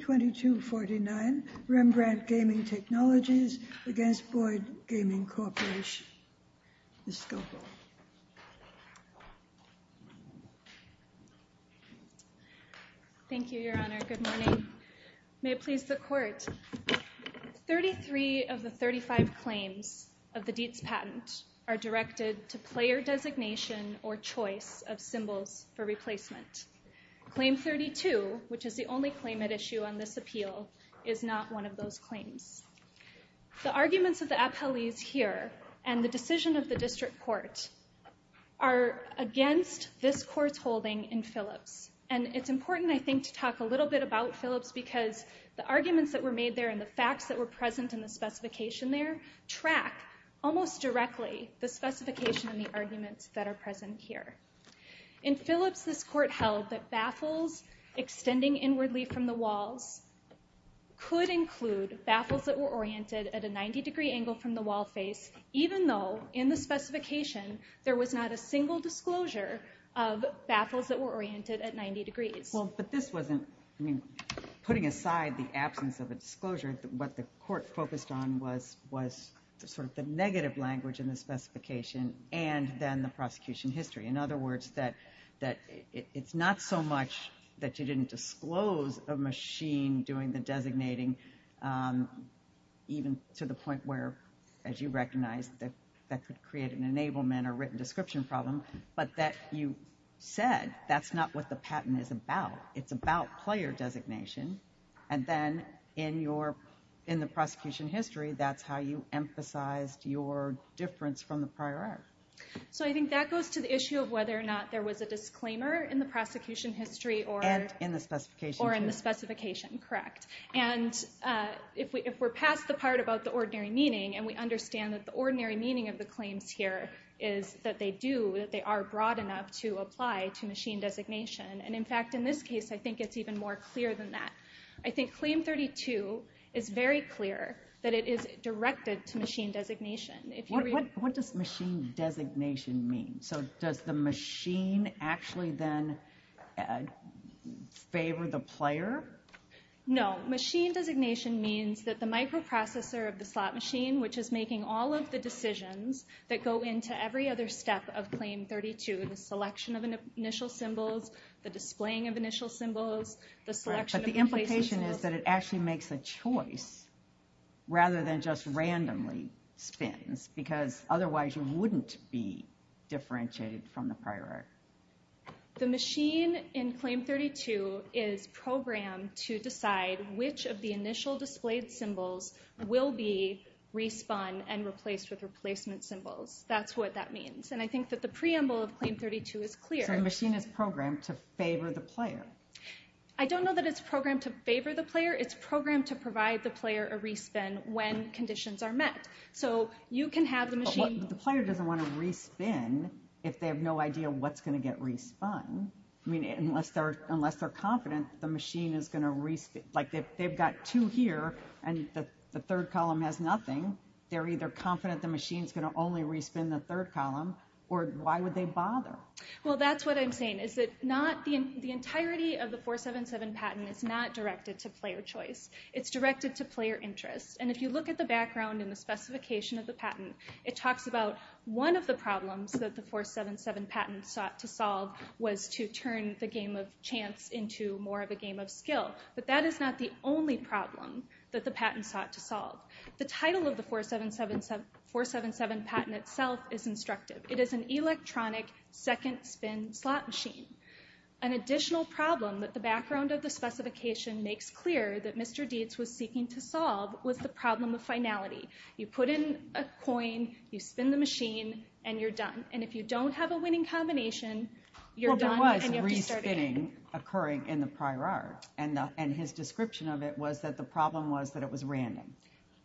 2249 Rembrandt Gaming Technologies v. Boyd Gaming Corporation Ms. Scowcroft Thank you, Your Honor. Good morning. May it please the Court, 33 of the 35 claims of the Dietz patent are directed to player designation or choice of symbols for replacement. Claim 32, which is the only claim at issue on this appeal, is not one of those claims. The arguments of the appellees here and the decision of the District Court are against this Court's holding in Phillips. And it's important, I think, to talk a little bit about Phillips because the arguments that were made there and the facts that were present in the specification there track almost directly the specification and the arguments that are present here. In Phillips, this Court held that baffles extending inwardly from the walls could include baffles that were oriented at a 90 degree angle from the wall face even though in the specification there was not a single disclosure of baffles that were oriented at 90 degrees. Well, but this wasn't, I mean, putting aside the absence of a disclosure, what the Court focused on was sort of the negative language in the specification and then the prosecution history. In other words, that it's not so much that you didn't disclose a machine doing the designating even to the point where, as you recognize, that could create an enablement or written description problem, but that you said that's not what the patent is about. It's about player designation. And then in the prosecution history, that's how you emphasized your difference from the prior act. So I think that goes to the issue of whether or not there was a disclaimer in the prosecution history or... And in the specification, too. Or in the specification, correct. And if we're past the part about the ordinary meaning, and we understand that the ordinary meaning of the claims here is that they do, that they are broad enough to apply to machine designation. And in fact, in this case, I think it's even more clear than that. I think Claim 32 is very clear that it is directed to machine designation. What does machine designation mean? So does the machine actually then favor the player? No. Machine designation means that the microprocessor of the slot machine, which is making all of the decisions that go into every other step of Claim 32, the selection of initial symbols, the displaying of initial symbols, the selection of replacement symbols... But the implication is that it actually makes a choice rather than just randomly spins, because otherwise you wouldn't be differentiated from the prior act. The machine in Claim 32 is programmed to decide which of the initial displayed symbols will be respun and replaced with replacement symbols. That's what that means. And I think that the preamble of Claim 32 is clear. So the machine is programmed to favor the player. I don't know that it's programmed to favor the player. It's programmed to provide the player a respun when conditions are met. So you can have the machine... But the player doesn't want a respun if they have no idea what's going to get respun. I mean, unless they're confident the machine is going to respun. Like, they've got two here, and the third column has nothing. They're either confident the machine is going to only respun the third column, or why would they bother? Well, that's what I'm saying, is that the entirety of the 477 patent is not directed to player choice. It's directed to player interest. And if you look at the background and the specification of the patent, it talks about one of the problems that the 477 patent sought to solve was to turn the game of chance into more of a game of skill. The title of the 477 patent itself is instructive. It is an electronic second-spin slot machine. An additional problem that the background of the specification makes clear that Mr. Dietz was seeking to solve was the problem of finality. You put in a coin, you spin the machine, and you're done. And if you don't have a winning combination, you're done, and you have to start again. Well, there was re-spinning occurring in the prior art, and his description of it was that the problem was that it was random.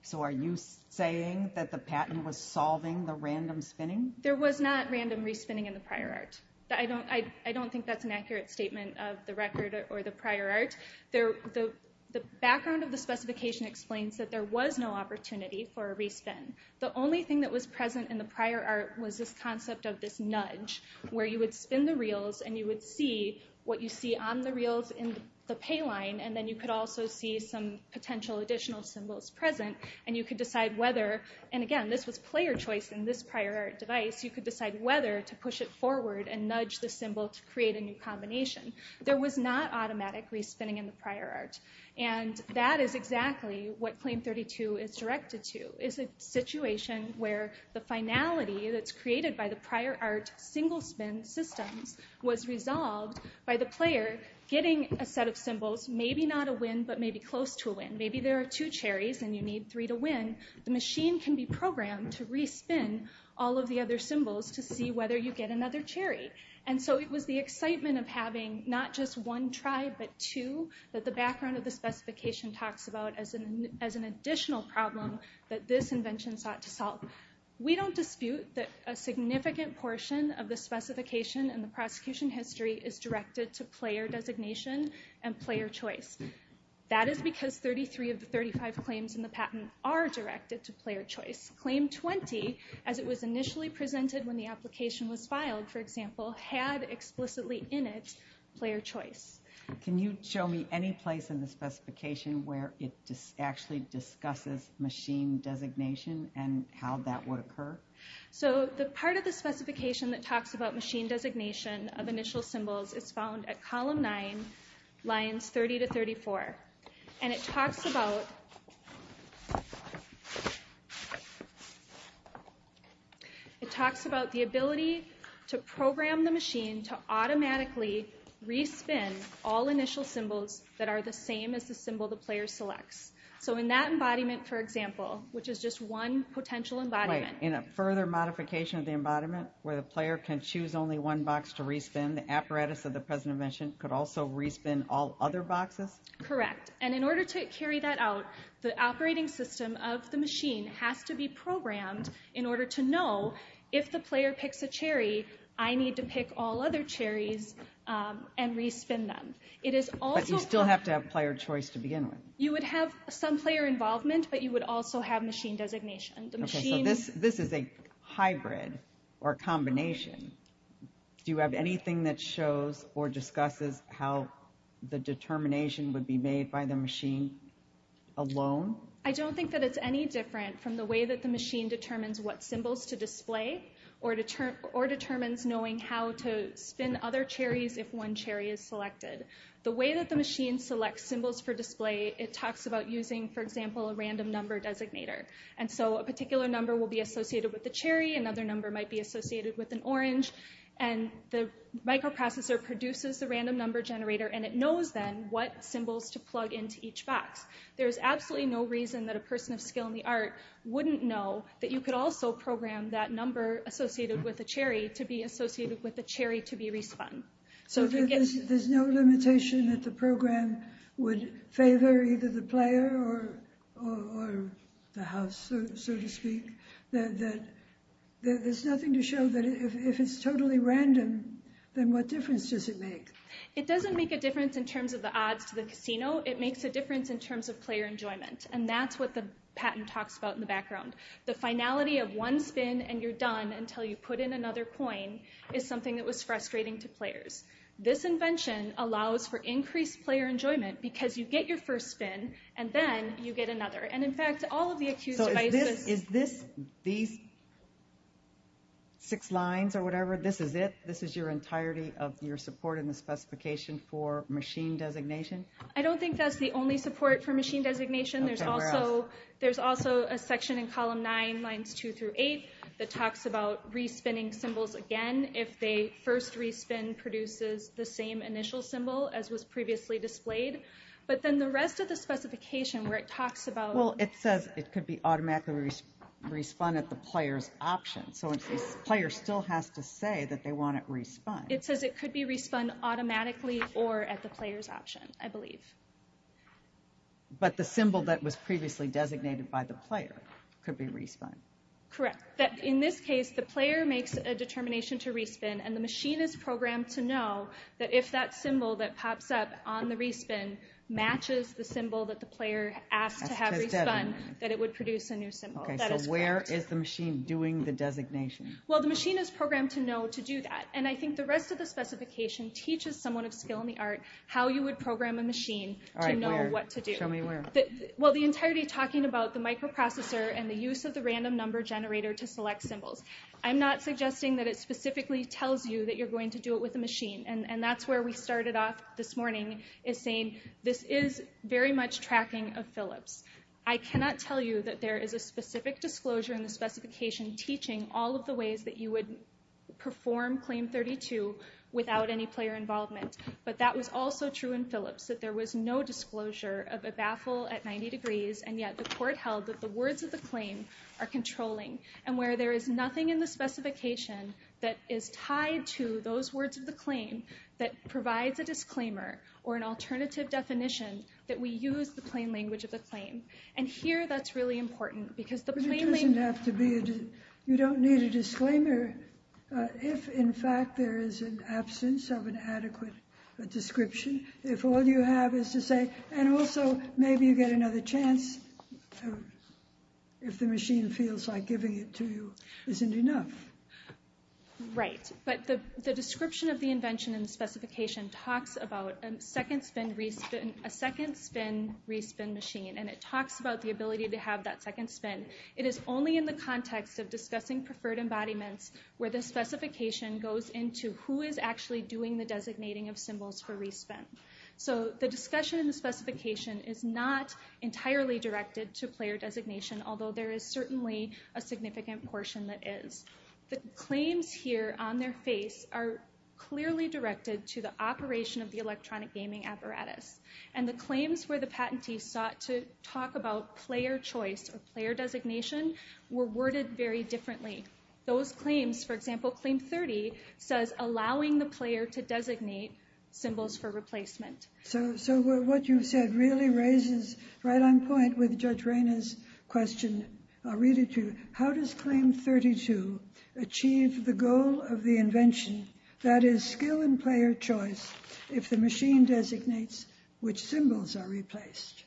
So are you saying that the patent was solving the random spinning? There was not random re-spinning in the prior art. I don't think that's an accurate statement of the record or the prior art. The background of the specification explains that there was no opportunity for a re-spin. The only thing that was present in the prior art was this concept of this nudge, where you would spin the reels and you would see what you see on the reels in the pay line, and then you could also see some potential additional symbols present, and you could decide whether, and again, this was player choice in this prior art device, you could decide whether to push it forward and nudge the symbol to create a new combination. There was not automatic re-spinning in the prior art, and that is exactly what Claim 32 is directed to. It's a situation where the finality that's created by the prior art single-spin systems was resolved by the player getting a set of symbols, maybe not a win, but maybe close to a win. Maybe there are two cherries and you need three to win. The machine can be programmed to re-spin all of the other symbols to see whether you get another cherry. And so it was the excitement of having not just one try, but two, that the background of the specification talks about as an additional problem that this invention sought to solve. We don't dispute that a significant portion of the specification in the prosecution history is directed to player designation and player choice. That is because 33 of the 35 claims in the patent are directed to player choice. Claim 20, as it was initially presented when the application was filed, for example, had explicitly in it player choice. Can you show me any place in the specification where it actually discusses machine designation and how that would occur? So the part of the specification that talks about machine designation of initial symbols is found at column 9, lines 30 to 34. And it talks about the ability to program the machine to automatically re-spin all initial symbols that are the same as the symbol the player selects. So in that embodiment, for example, which is just one potential embodiment. In a further modification of the embodiment where the player can choose only one box to re-spin, the apparatus of the present invention could also re-spin all other boxes? Correct. And in order to carry that out, the operating system of the machine has to be programmed in order to know if the player picks a cherry, I need to pick all other cherries and re-spin them. But you still have to have player choice to begin with. You would have some player involvement, but you would also have machine designation. This is a hybrid or combination. Do you have anything that shows or discusses how the determination would be made by the machine alone? I don't think that it's any different from the way that the machine determines what symbols to display or determines knowing how to spin other cherries if one cherry is selected. The way that the machine selects symbols for display, it talks about using, for example, a random number designator. And so a particular number will be associated with a cherry, another number might be associated with an orange, and the microprocessor produces a random number generator and it knows then what symbols to plug into each box. There's absolutely no reason that a person of skill in the art wouldn't know that you could also program that number associated with a cherry to be associated with a cherry to be re-spun. So there's no limitation that the program would favor either the player or the house, so to speak? There's nothing to show that if it's totally random, then what difference does it make? It doesn't make a difference in terms of the odds to the casino. It makes a difference in terms of player enjoyment. And that's what the patent talks about in the background. The finality of one spin and you're done until you put in another coin is something that was frustrating to players. This invention allows for increased player enjoyment because you get your first spin and then you get another. And in fact, all of the accused devices... So is this, these six lines or whatever, this is it? This is your entirety of your support in the specification for machine designation? I don't think that's the only support for machine designation. There's also a section in column nine, lines two through eight, that talks about re-spinning symbols again. If they first re-spin, produces the same initial symbol as was previously displayed. But then the rest of the specification where it talks about... Well, it says it could be automatically re-spun at the player's option. So the player still has to say that they want it re-spun. It says it could be re-spun automatically or at the player's option, I believe. But the symbol that was previously designated by the player could be re-spun. Correct. In this case, the player makes a determination to re-spin, and the machine is programmed to know that if that symbol that pops up on the re-spin matches the symbol that the player asked to have re-spun, that it would produce a new symbol. So where is the machine doing the designation? Well, the machine is programmed to know to do that. And I think the rest of the specification teaches someone of skill in the art how you would program a machine to know what to do. Show me where. Well, the entirety talking about the microprocessor and the use of the random number generator to select symbols. I'm not suggesting that it specifically tells you that you're going to do it with a machine. And that's where we started off this morning, is saying this is very much tracking of Phillips. I cannot tell you that there is a specific disclosure in the specification teaching all of the ways that you would perform Claim 32 without any player involvement. But that was also true in Phillips, that there was no disclosure of a baffle at 90 degrees, and yet the court held that the words of the claim are controlling. And where there is nothing in the specification that is tied to those words of the claim that provides a disclaimer or an alternative definition, that we use the plain language of the claim. And here that's really important because the plain language doesn't have to be, you don't need a disclaimer if in fact there is an absence of an adequate description. If all you have is to say, and also maybe you get another chance if the machine feels like giving it to you isn't enough. Right, but the description of the invention in the specification talks about a second spin re-spin, a second spin re-spin machine. And it talks about the ability to have that second spin. It is only in the context of discussing preferred embodiments where the specification goes into who is actually doing the designating of symbols for re-spin. So the discussion in the specification is not entirely directed to player designation, although there is certainly a significant portion that is. The claims here on their face are clearly directed to the operation of the electronic gaming apparatus. And the claims where the patentee sought to talk about player choice or player designation were worded very differently. Those claims, for example, Claim 30 says, allowing the player to designate symbols for replacement. So what you've said really raises right on point with Judge Reyna's question. I'll read it to you. How does Claim 32 achieve the goal of the invention, that is, skill in player choice, if the machine designates which symbols are replaced?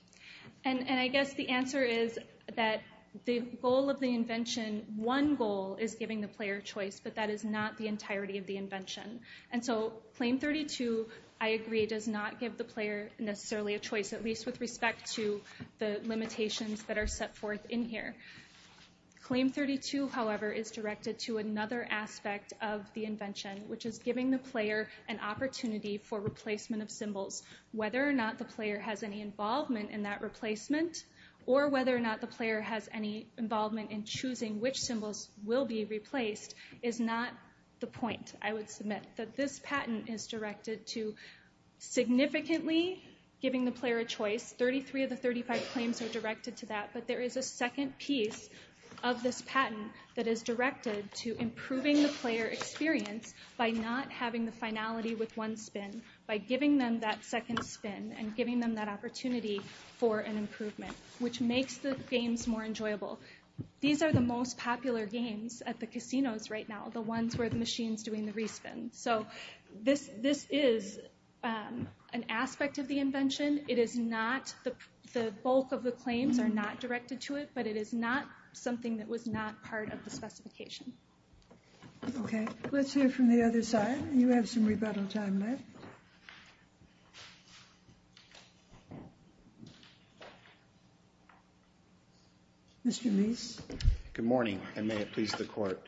And I guess the answer is that the goal of the invention, one goal is giving the player choice, but that is not the entirety of the invention. And so Claim 32, I agree, does not give the player necessarily a choice, at least with respect to the limitations that are set forth in here. Claim 32, however, is directed to another aspect of the invention, which is giving the player an opportunity for replacement of symbols. Whether or not the player has any involvement in that replacement, or whether or not the player has any involvement in choosing which symbols will be replaced, is not the point, I would submit. Yes, 33 of the 35 claims are directed to that, but there is a second piece of this patent that is directed to improving the player experience by not having the finality with one spin, by giving them that second spin and giving them that opportunity for an improvement, which makes the games more enjoyable. These are the most popular games at the casinos right now, the ones where the machine's doing the re-spin. So this is an aspect of the invention. It is not, the bulk of the claims are not directed to it, but it is not something that was not part of the specification. Okay, let's hear from the other side. You have some rebuttal time left. Mr. Meese. Good morning, and may it please the Court.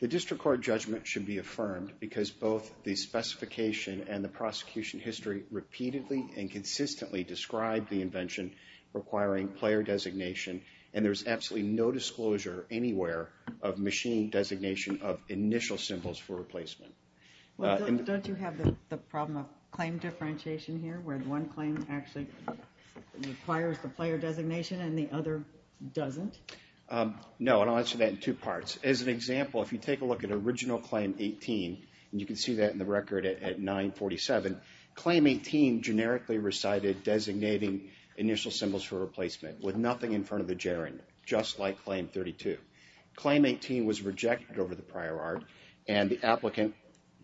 The District Court judgment should be affirmed because both the specification and the prosecution history repeatedly and consistently describe the invention requiring player designation, and there is absolutely no disclosure anywhere of machine designation of initial symbols for replacement. Don't you have the problem of claim differentiation here, where one claim actually requires the player designation and the other doesn't? No, and I'll answer that in two parts. As an example, if you take a look at original claim 18, and you can see that in the record at 947, claim 18 generically recited designating initial symbols for replacement with nothing in front of the gerund, just like claim 32. Claim 18 was rejected over the prior art, and the applicant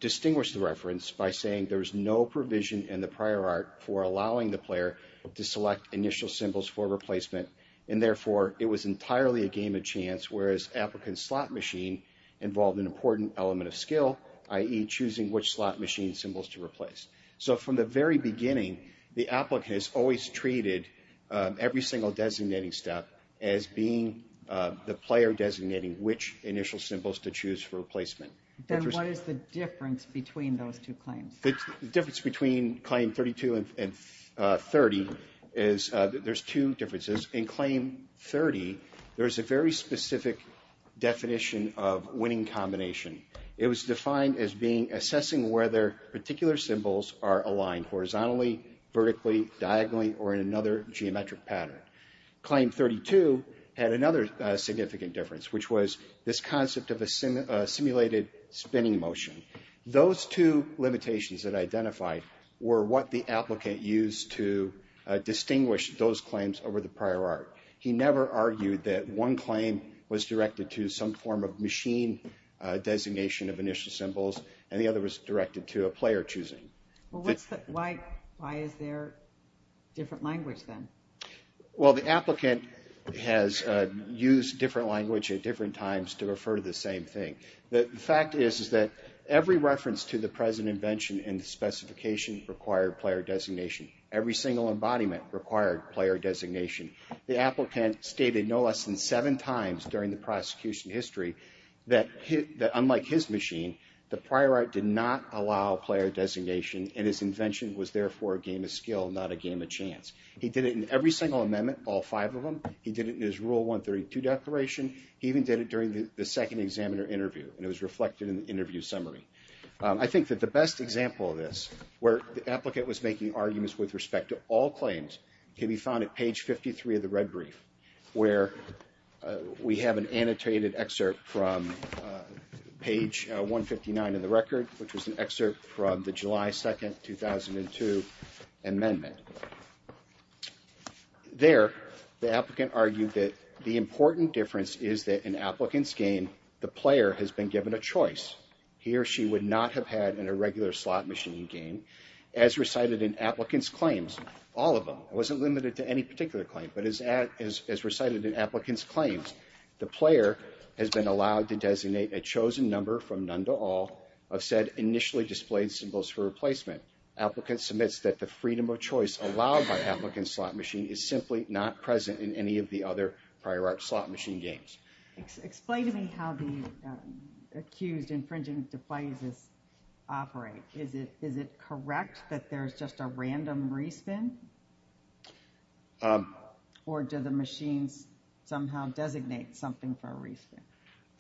distinguished the reference by saying there was no provision in the prior art for allowing the player to select initial symbols for replacement, and therefore it was entirely a game of chance, whereas applicant slot machine involved an important element of skill, i.e. choosing which slot machine symbols to replace. So from the very beginning, the applicant has always treated every single designating step as being the player designating which initial symbols to choose for replacement. Then what is the difference between those two claims? The difference between claim 32 and 30 is there's two differences. In claim 30, there's a very specific definition of winning combination. It was defined as assessing whether particular symbols are aligned horizontally, vertically, diagonally, or in another geometric pattern. Claim 32 had another significant difference, which was this concept of a simulated spinning motion. Those two limitations that I identified were what the applicant used to distinguish those claims over the prior art. He never argued that one claim was directed to some form of machine designation of initial symbols, and the other was directed to a player choosing. Why is there different language then? Well, the applicant has used different language at different times to refer to the same thing. The fact is that every reference to the present invention and the specification required player designation. Every single embodiment required player designation. The applicant stated no less than seven times during the prosecution history that unlike his machine, the prior art did not allow player designation, and his invention was therefore a game of skill, not a game of chance. He did it in every single amendment, all five of them. He did it in his Rule 132 declaration. He even did it during the second examiner interview, and it was reflected in the interview summary. I think that the best example of this, where the applicant was making arguments with respect to all claims, can be found at page 53 of the red brief, where we have an annotated excerpt from page 159 of the record, which was an excerpt from the July 2, 2002, amendment. There, the applicant argued that the important difference is that in applicants' game, the player has been given a choice. He or she would not have had in a regular slot machine game. As recited in applicants' claims, all of them, it wasn't limited to any particular claim, but as recited in applicants' claims, the player has been allowed to designate a chosen number from none to all of said initially displayed symbols for replacement. Applicant submits that the freedom of choice allowed by applicants' slot machine is simply not present in any of the other prior art slot machine games. Explain to me how the accused infringing devices operate. Is it correct that there's just a random re-spin? Or do the machines somehow designate something for a re-spin?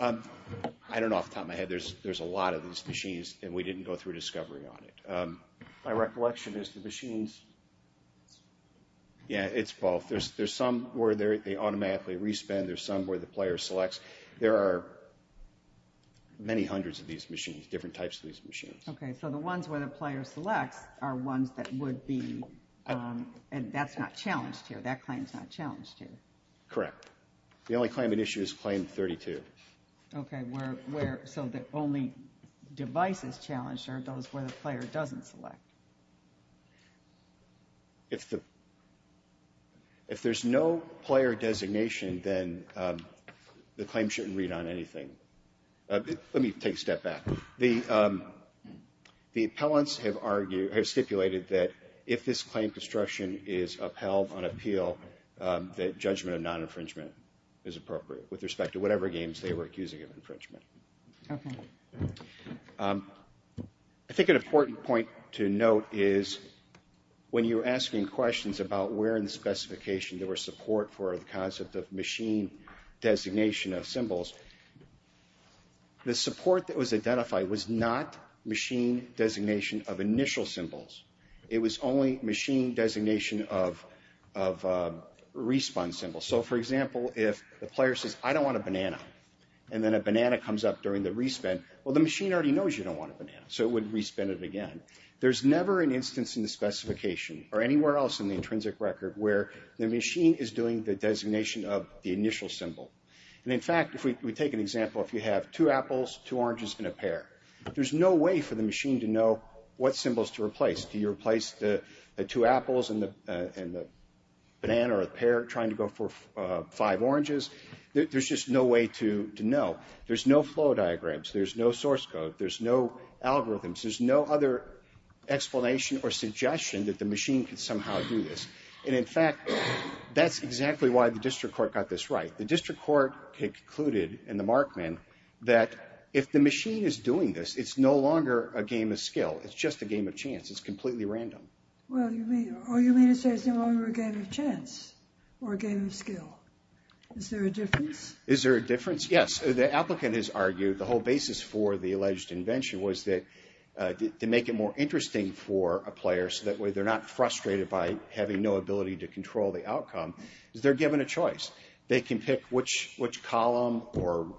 I don't know off the top of my head. There's a lot of these machines, and we didn't go through discovery on it. My recollection is the machines... Yeah, it's both. There's some where they automatically re-spin. There's some where the player selects. There are many hundreds of these machines, different types of these machines. Okay, so the ones where the player selects are ones that would be... That's not challenged here. That claim's not challenged here. Correct. The only claim at issue is claim 32. Okay, so the only devices challenged are those where the player doesn't select. If there's no player designation, then the claim shouldn't read on anything. Let me take a step back. The appellants have stipulated that if this claim construction is upheld on appeal, that judgment of non-infringement is appropriate with respect to whatever games they were accusing of infringement. Okay. I think an important point to note is when you're asking questions about where in the specification there was support for the concept of machine designation of symbols, the support that was identified was not machine designation of initial symbols. It was only machine designation of re-spun symbols. So, for example, if the player says, I don't want a banana, and then a banana comes up during the re-spin, well, the machine already knows you don't want a banana, so it would re-spin it again. There's never an instance in the specification or anywhere else in the intrinsic record where the machine is doing the designation of the initial symbol. And, in fact, if we take an example, if you have two apples, two oranges, and a pear, there's no way for the machine to know what symbols to replace. Do you replace the two apples and the banana or the pear trying to go for five oranges? There's just no way to know. There's no flow diagrams. There's no source code. There's no algorithms. There's no other explanation or suggestion that the machine could somehow do this. And, in fact, that's exactly why the district court got this right. The district court concluded in the Markman that if the machine is doing this, it's no longer a game of skill. It's just a game of chance. It's completely random. Well, you mean to say it's no longer a game of chance or a game of skill? Is there a difference? Is there a difference? Yes. The applicant has argued the whole basis for the alleged invention was that to make it more interesting for a player so that way they're not frustrated by having no ability to control the outcome, is they're given a choice. They can pick which column or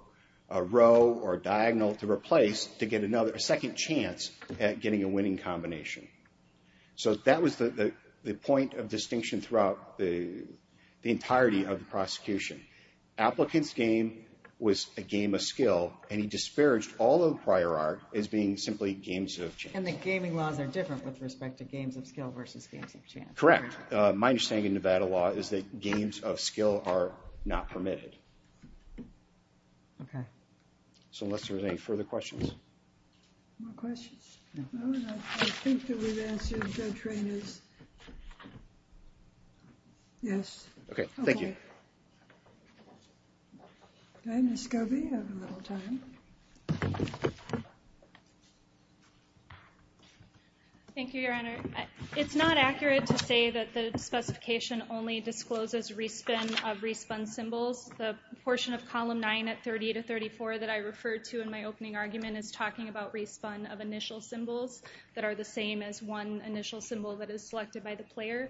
row or diagonal to replace to get a second chance at getting a winning combination. So that was the point of distinction throughout the entirety of the prosecution. Applicant's game was a game of skill, and he disparaged all of the prior art as being simply games of chance. And the gaming laws are different with respect to games of skill versus games of chance. Correct. My understanding of Nevada law is that games of skill are not permitted. Okay. So unless there are any further questions. More questions? I think that we've answered Judge Rainer's. Yes. Okay. Thank you. Ms. Scobie, you have a little time. Thank you, Your Honor. It's not accurate to say that the specification only discloses respun of respun symbols. The portion of Column 9 at 30 to 34 that I referred to in my opening argument is talking about respun of initial symbols that are the same as one initial symbol that is selected by the player.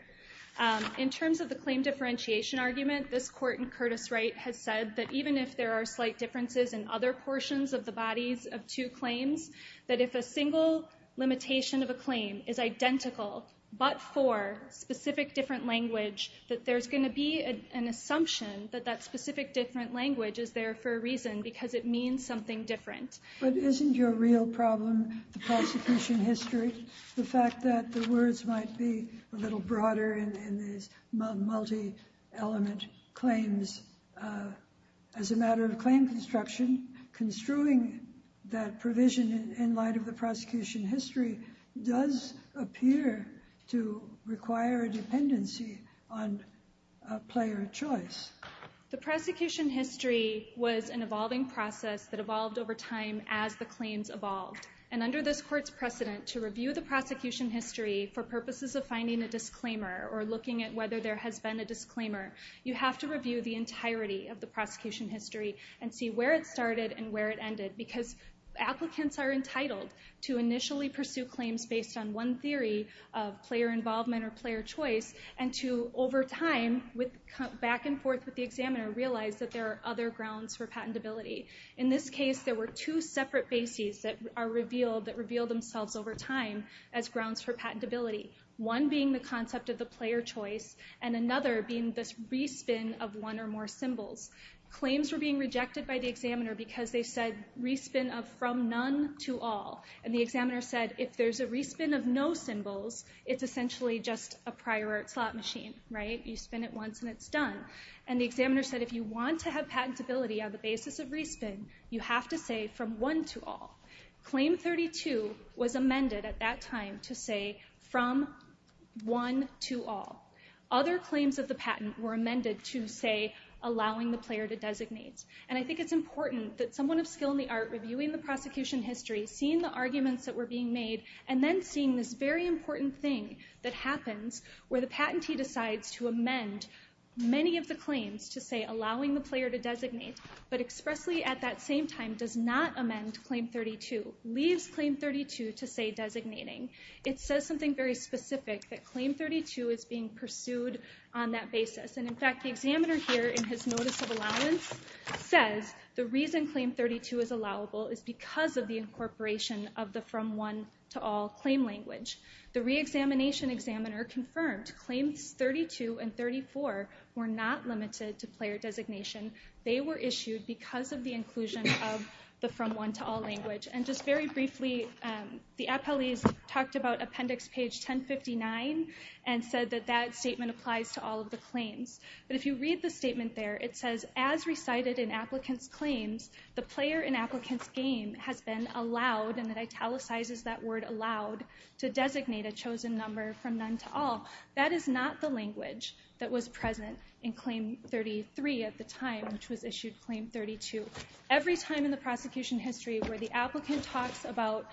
In terms of the claim differentiation argument, this Court in Curtis Wright has said that even if there are slight differences in other portions of the bodies of two claims, that if a single limitation of a claim is identical but for specific different language, that there's going to be an assumption that that specific different language is there for a reason because it means something different. But isn't your real problem the prosecution history, the fact that the words might be a little broader in these multi-element claims? As a matter of claim construction, construing that provision in light of the prosecution history does appear to require a dependency on player choice. The prosecution history was an evolving process that evolved over time as the claims evolved. And under this Court's precedent, to review the prosecution history for purposes of finding a disclaimer or looking at whether there has been a disclaimer, you have to review the entirety of the prosecution history and see where it started and where it ended. Because applicants are entitled to initially pursue claims based on one theory of player involvement or player choice, and to over time, back and forth with the examiner, realize that there are other grounds for patentability. In this case, there were two separate bases that revealed themselves over time as grounds for patentability. One being the concept of the player choice, and another being the re-spin of one or more symbols. Claims were being rejected by the examiner because they said re-spin of from none to all. And the examiner said if there's a re-spin of no symbols, it's essentially just a prior art slot machine. You spin it once and it's done. And the examiner said if you want to have patentability on the basis of re-spin, you have to say from one to all. Claim 32 was amended at that time to say from one to all. Other claims of the patent were amended to say allowing the player to designate. And I think it's important that someone of skill in the art reviewing the prosecution history, seeing the arguments that were being made, and then seeing this very important thing that happens where the patentee decides to amend many of the claims to say allowing the player to designate, but expressly at that same time does not amend Claim 32, leaves Claim 32 to say designating. It says something very specific that Claim 32 is being pursued on that basis. And, in fact, the examiner here in his notice of allowance says the reason Claim 32 is allowable is because of the incorporation of the from one to all claim language. The re-examination examiner confirmed Claims 32 and 34 were not limited to player designation. They were issued because of the inclusion of the from one to all language. And just very briefly, the appellees talked about Appendix Page 1059 and said that that statement applies to all of the claims. But if you read the statement there, it says, As recited in applicants' claims, the player in applicants' game has been allowed, and it italicizes that word allowed, to designate a chosen number from none to all. That is not the language that was present in Claim 33 at the time, which was issued Claim 32. Every time in the prosecution history where the applicant talks about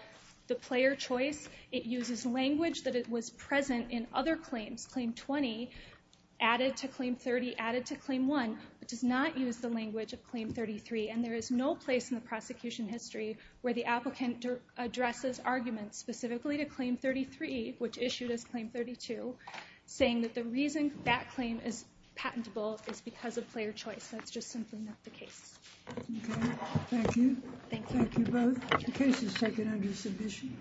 the player choice, it uses language that was present in other claims, Claim 20 added to Claim 30 added to Claim 1, but does not use the language of Claim 33. And there is no place in the prosecution history where the applicant addresses arguments specifically to Claim 33, which issued as Claim 32, saying that the reason that claim is patentable is because of player choice. That's just simply not the case. Okay, thank you. Thank you. Thank you both. The case is taken under submission.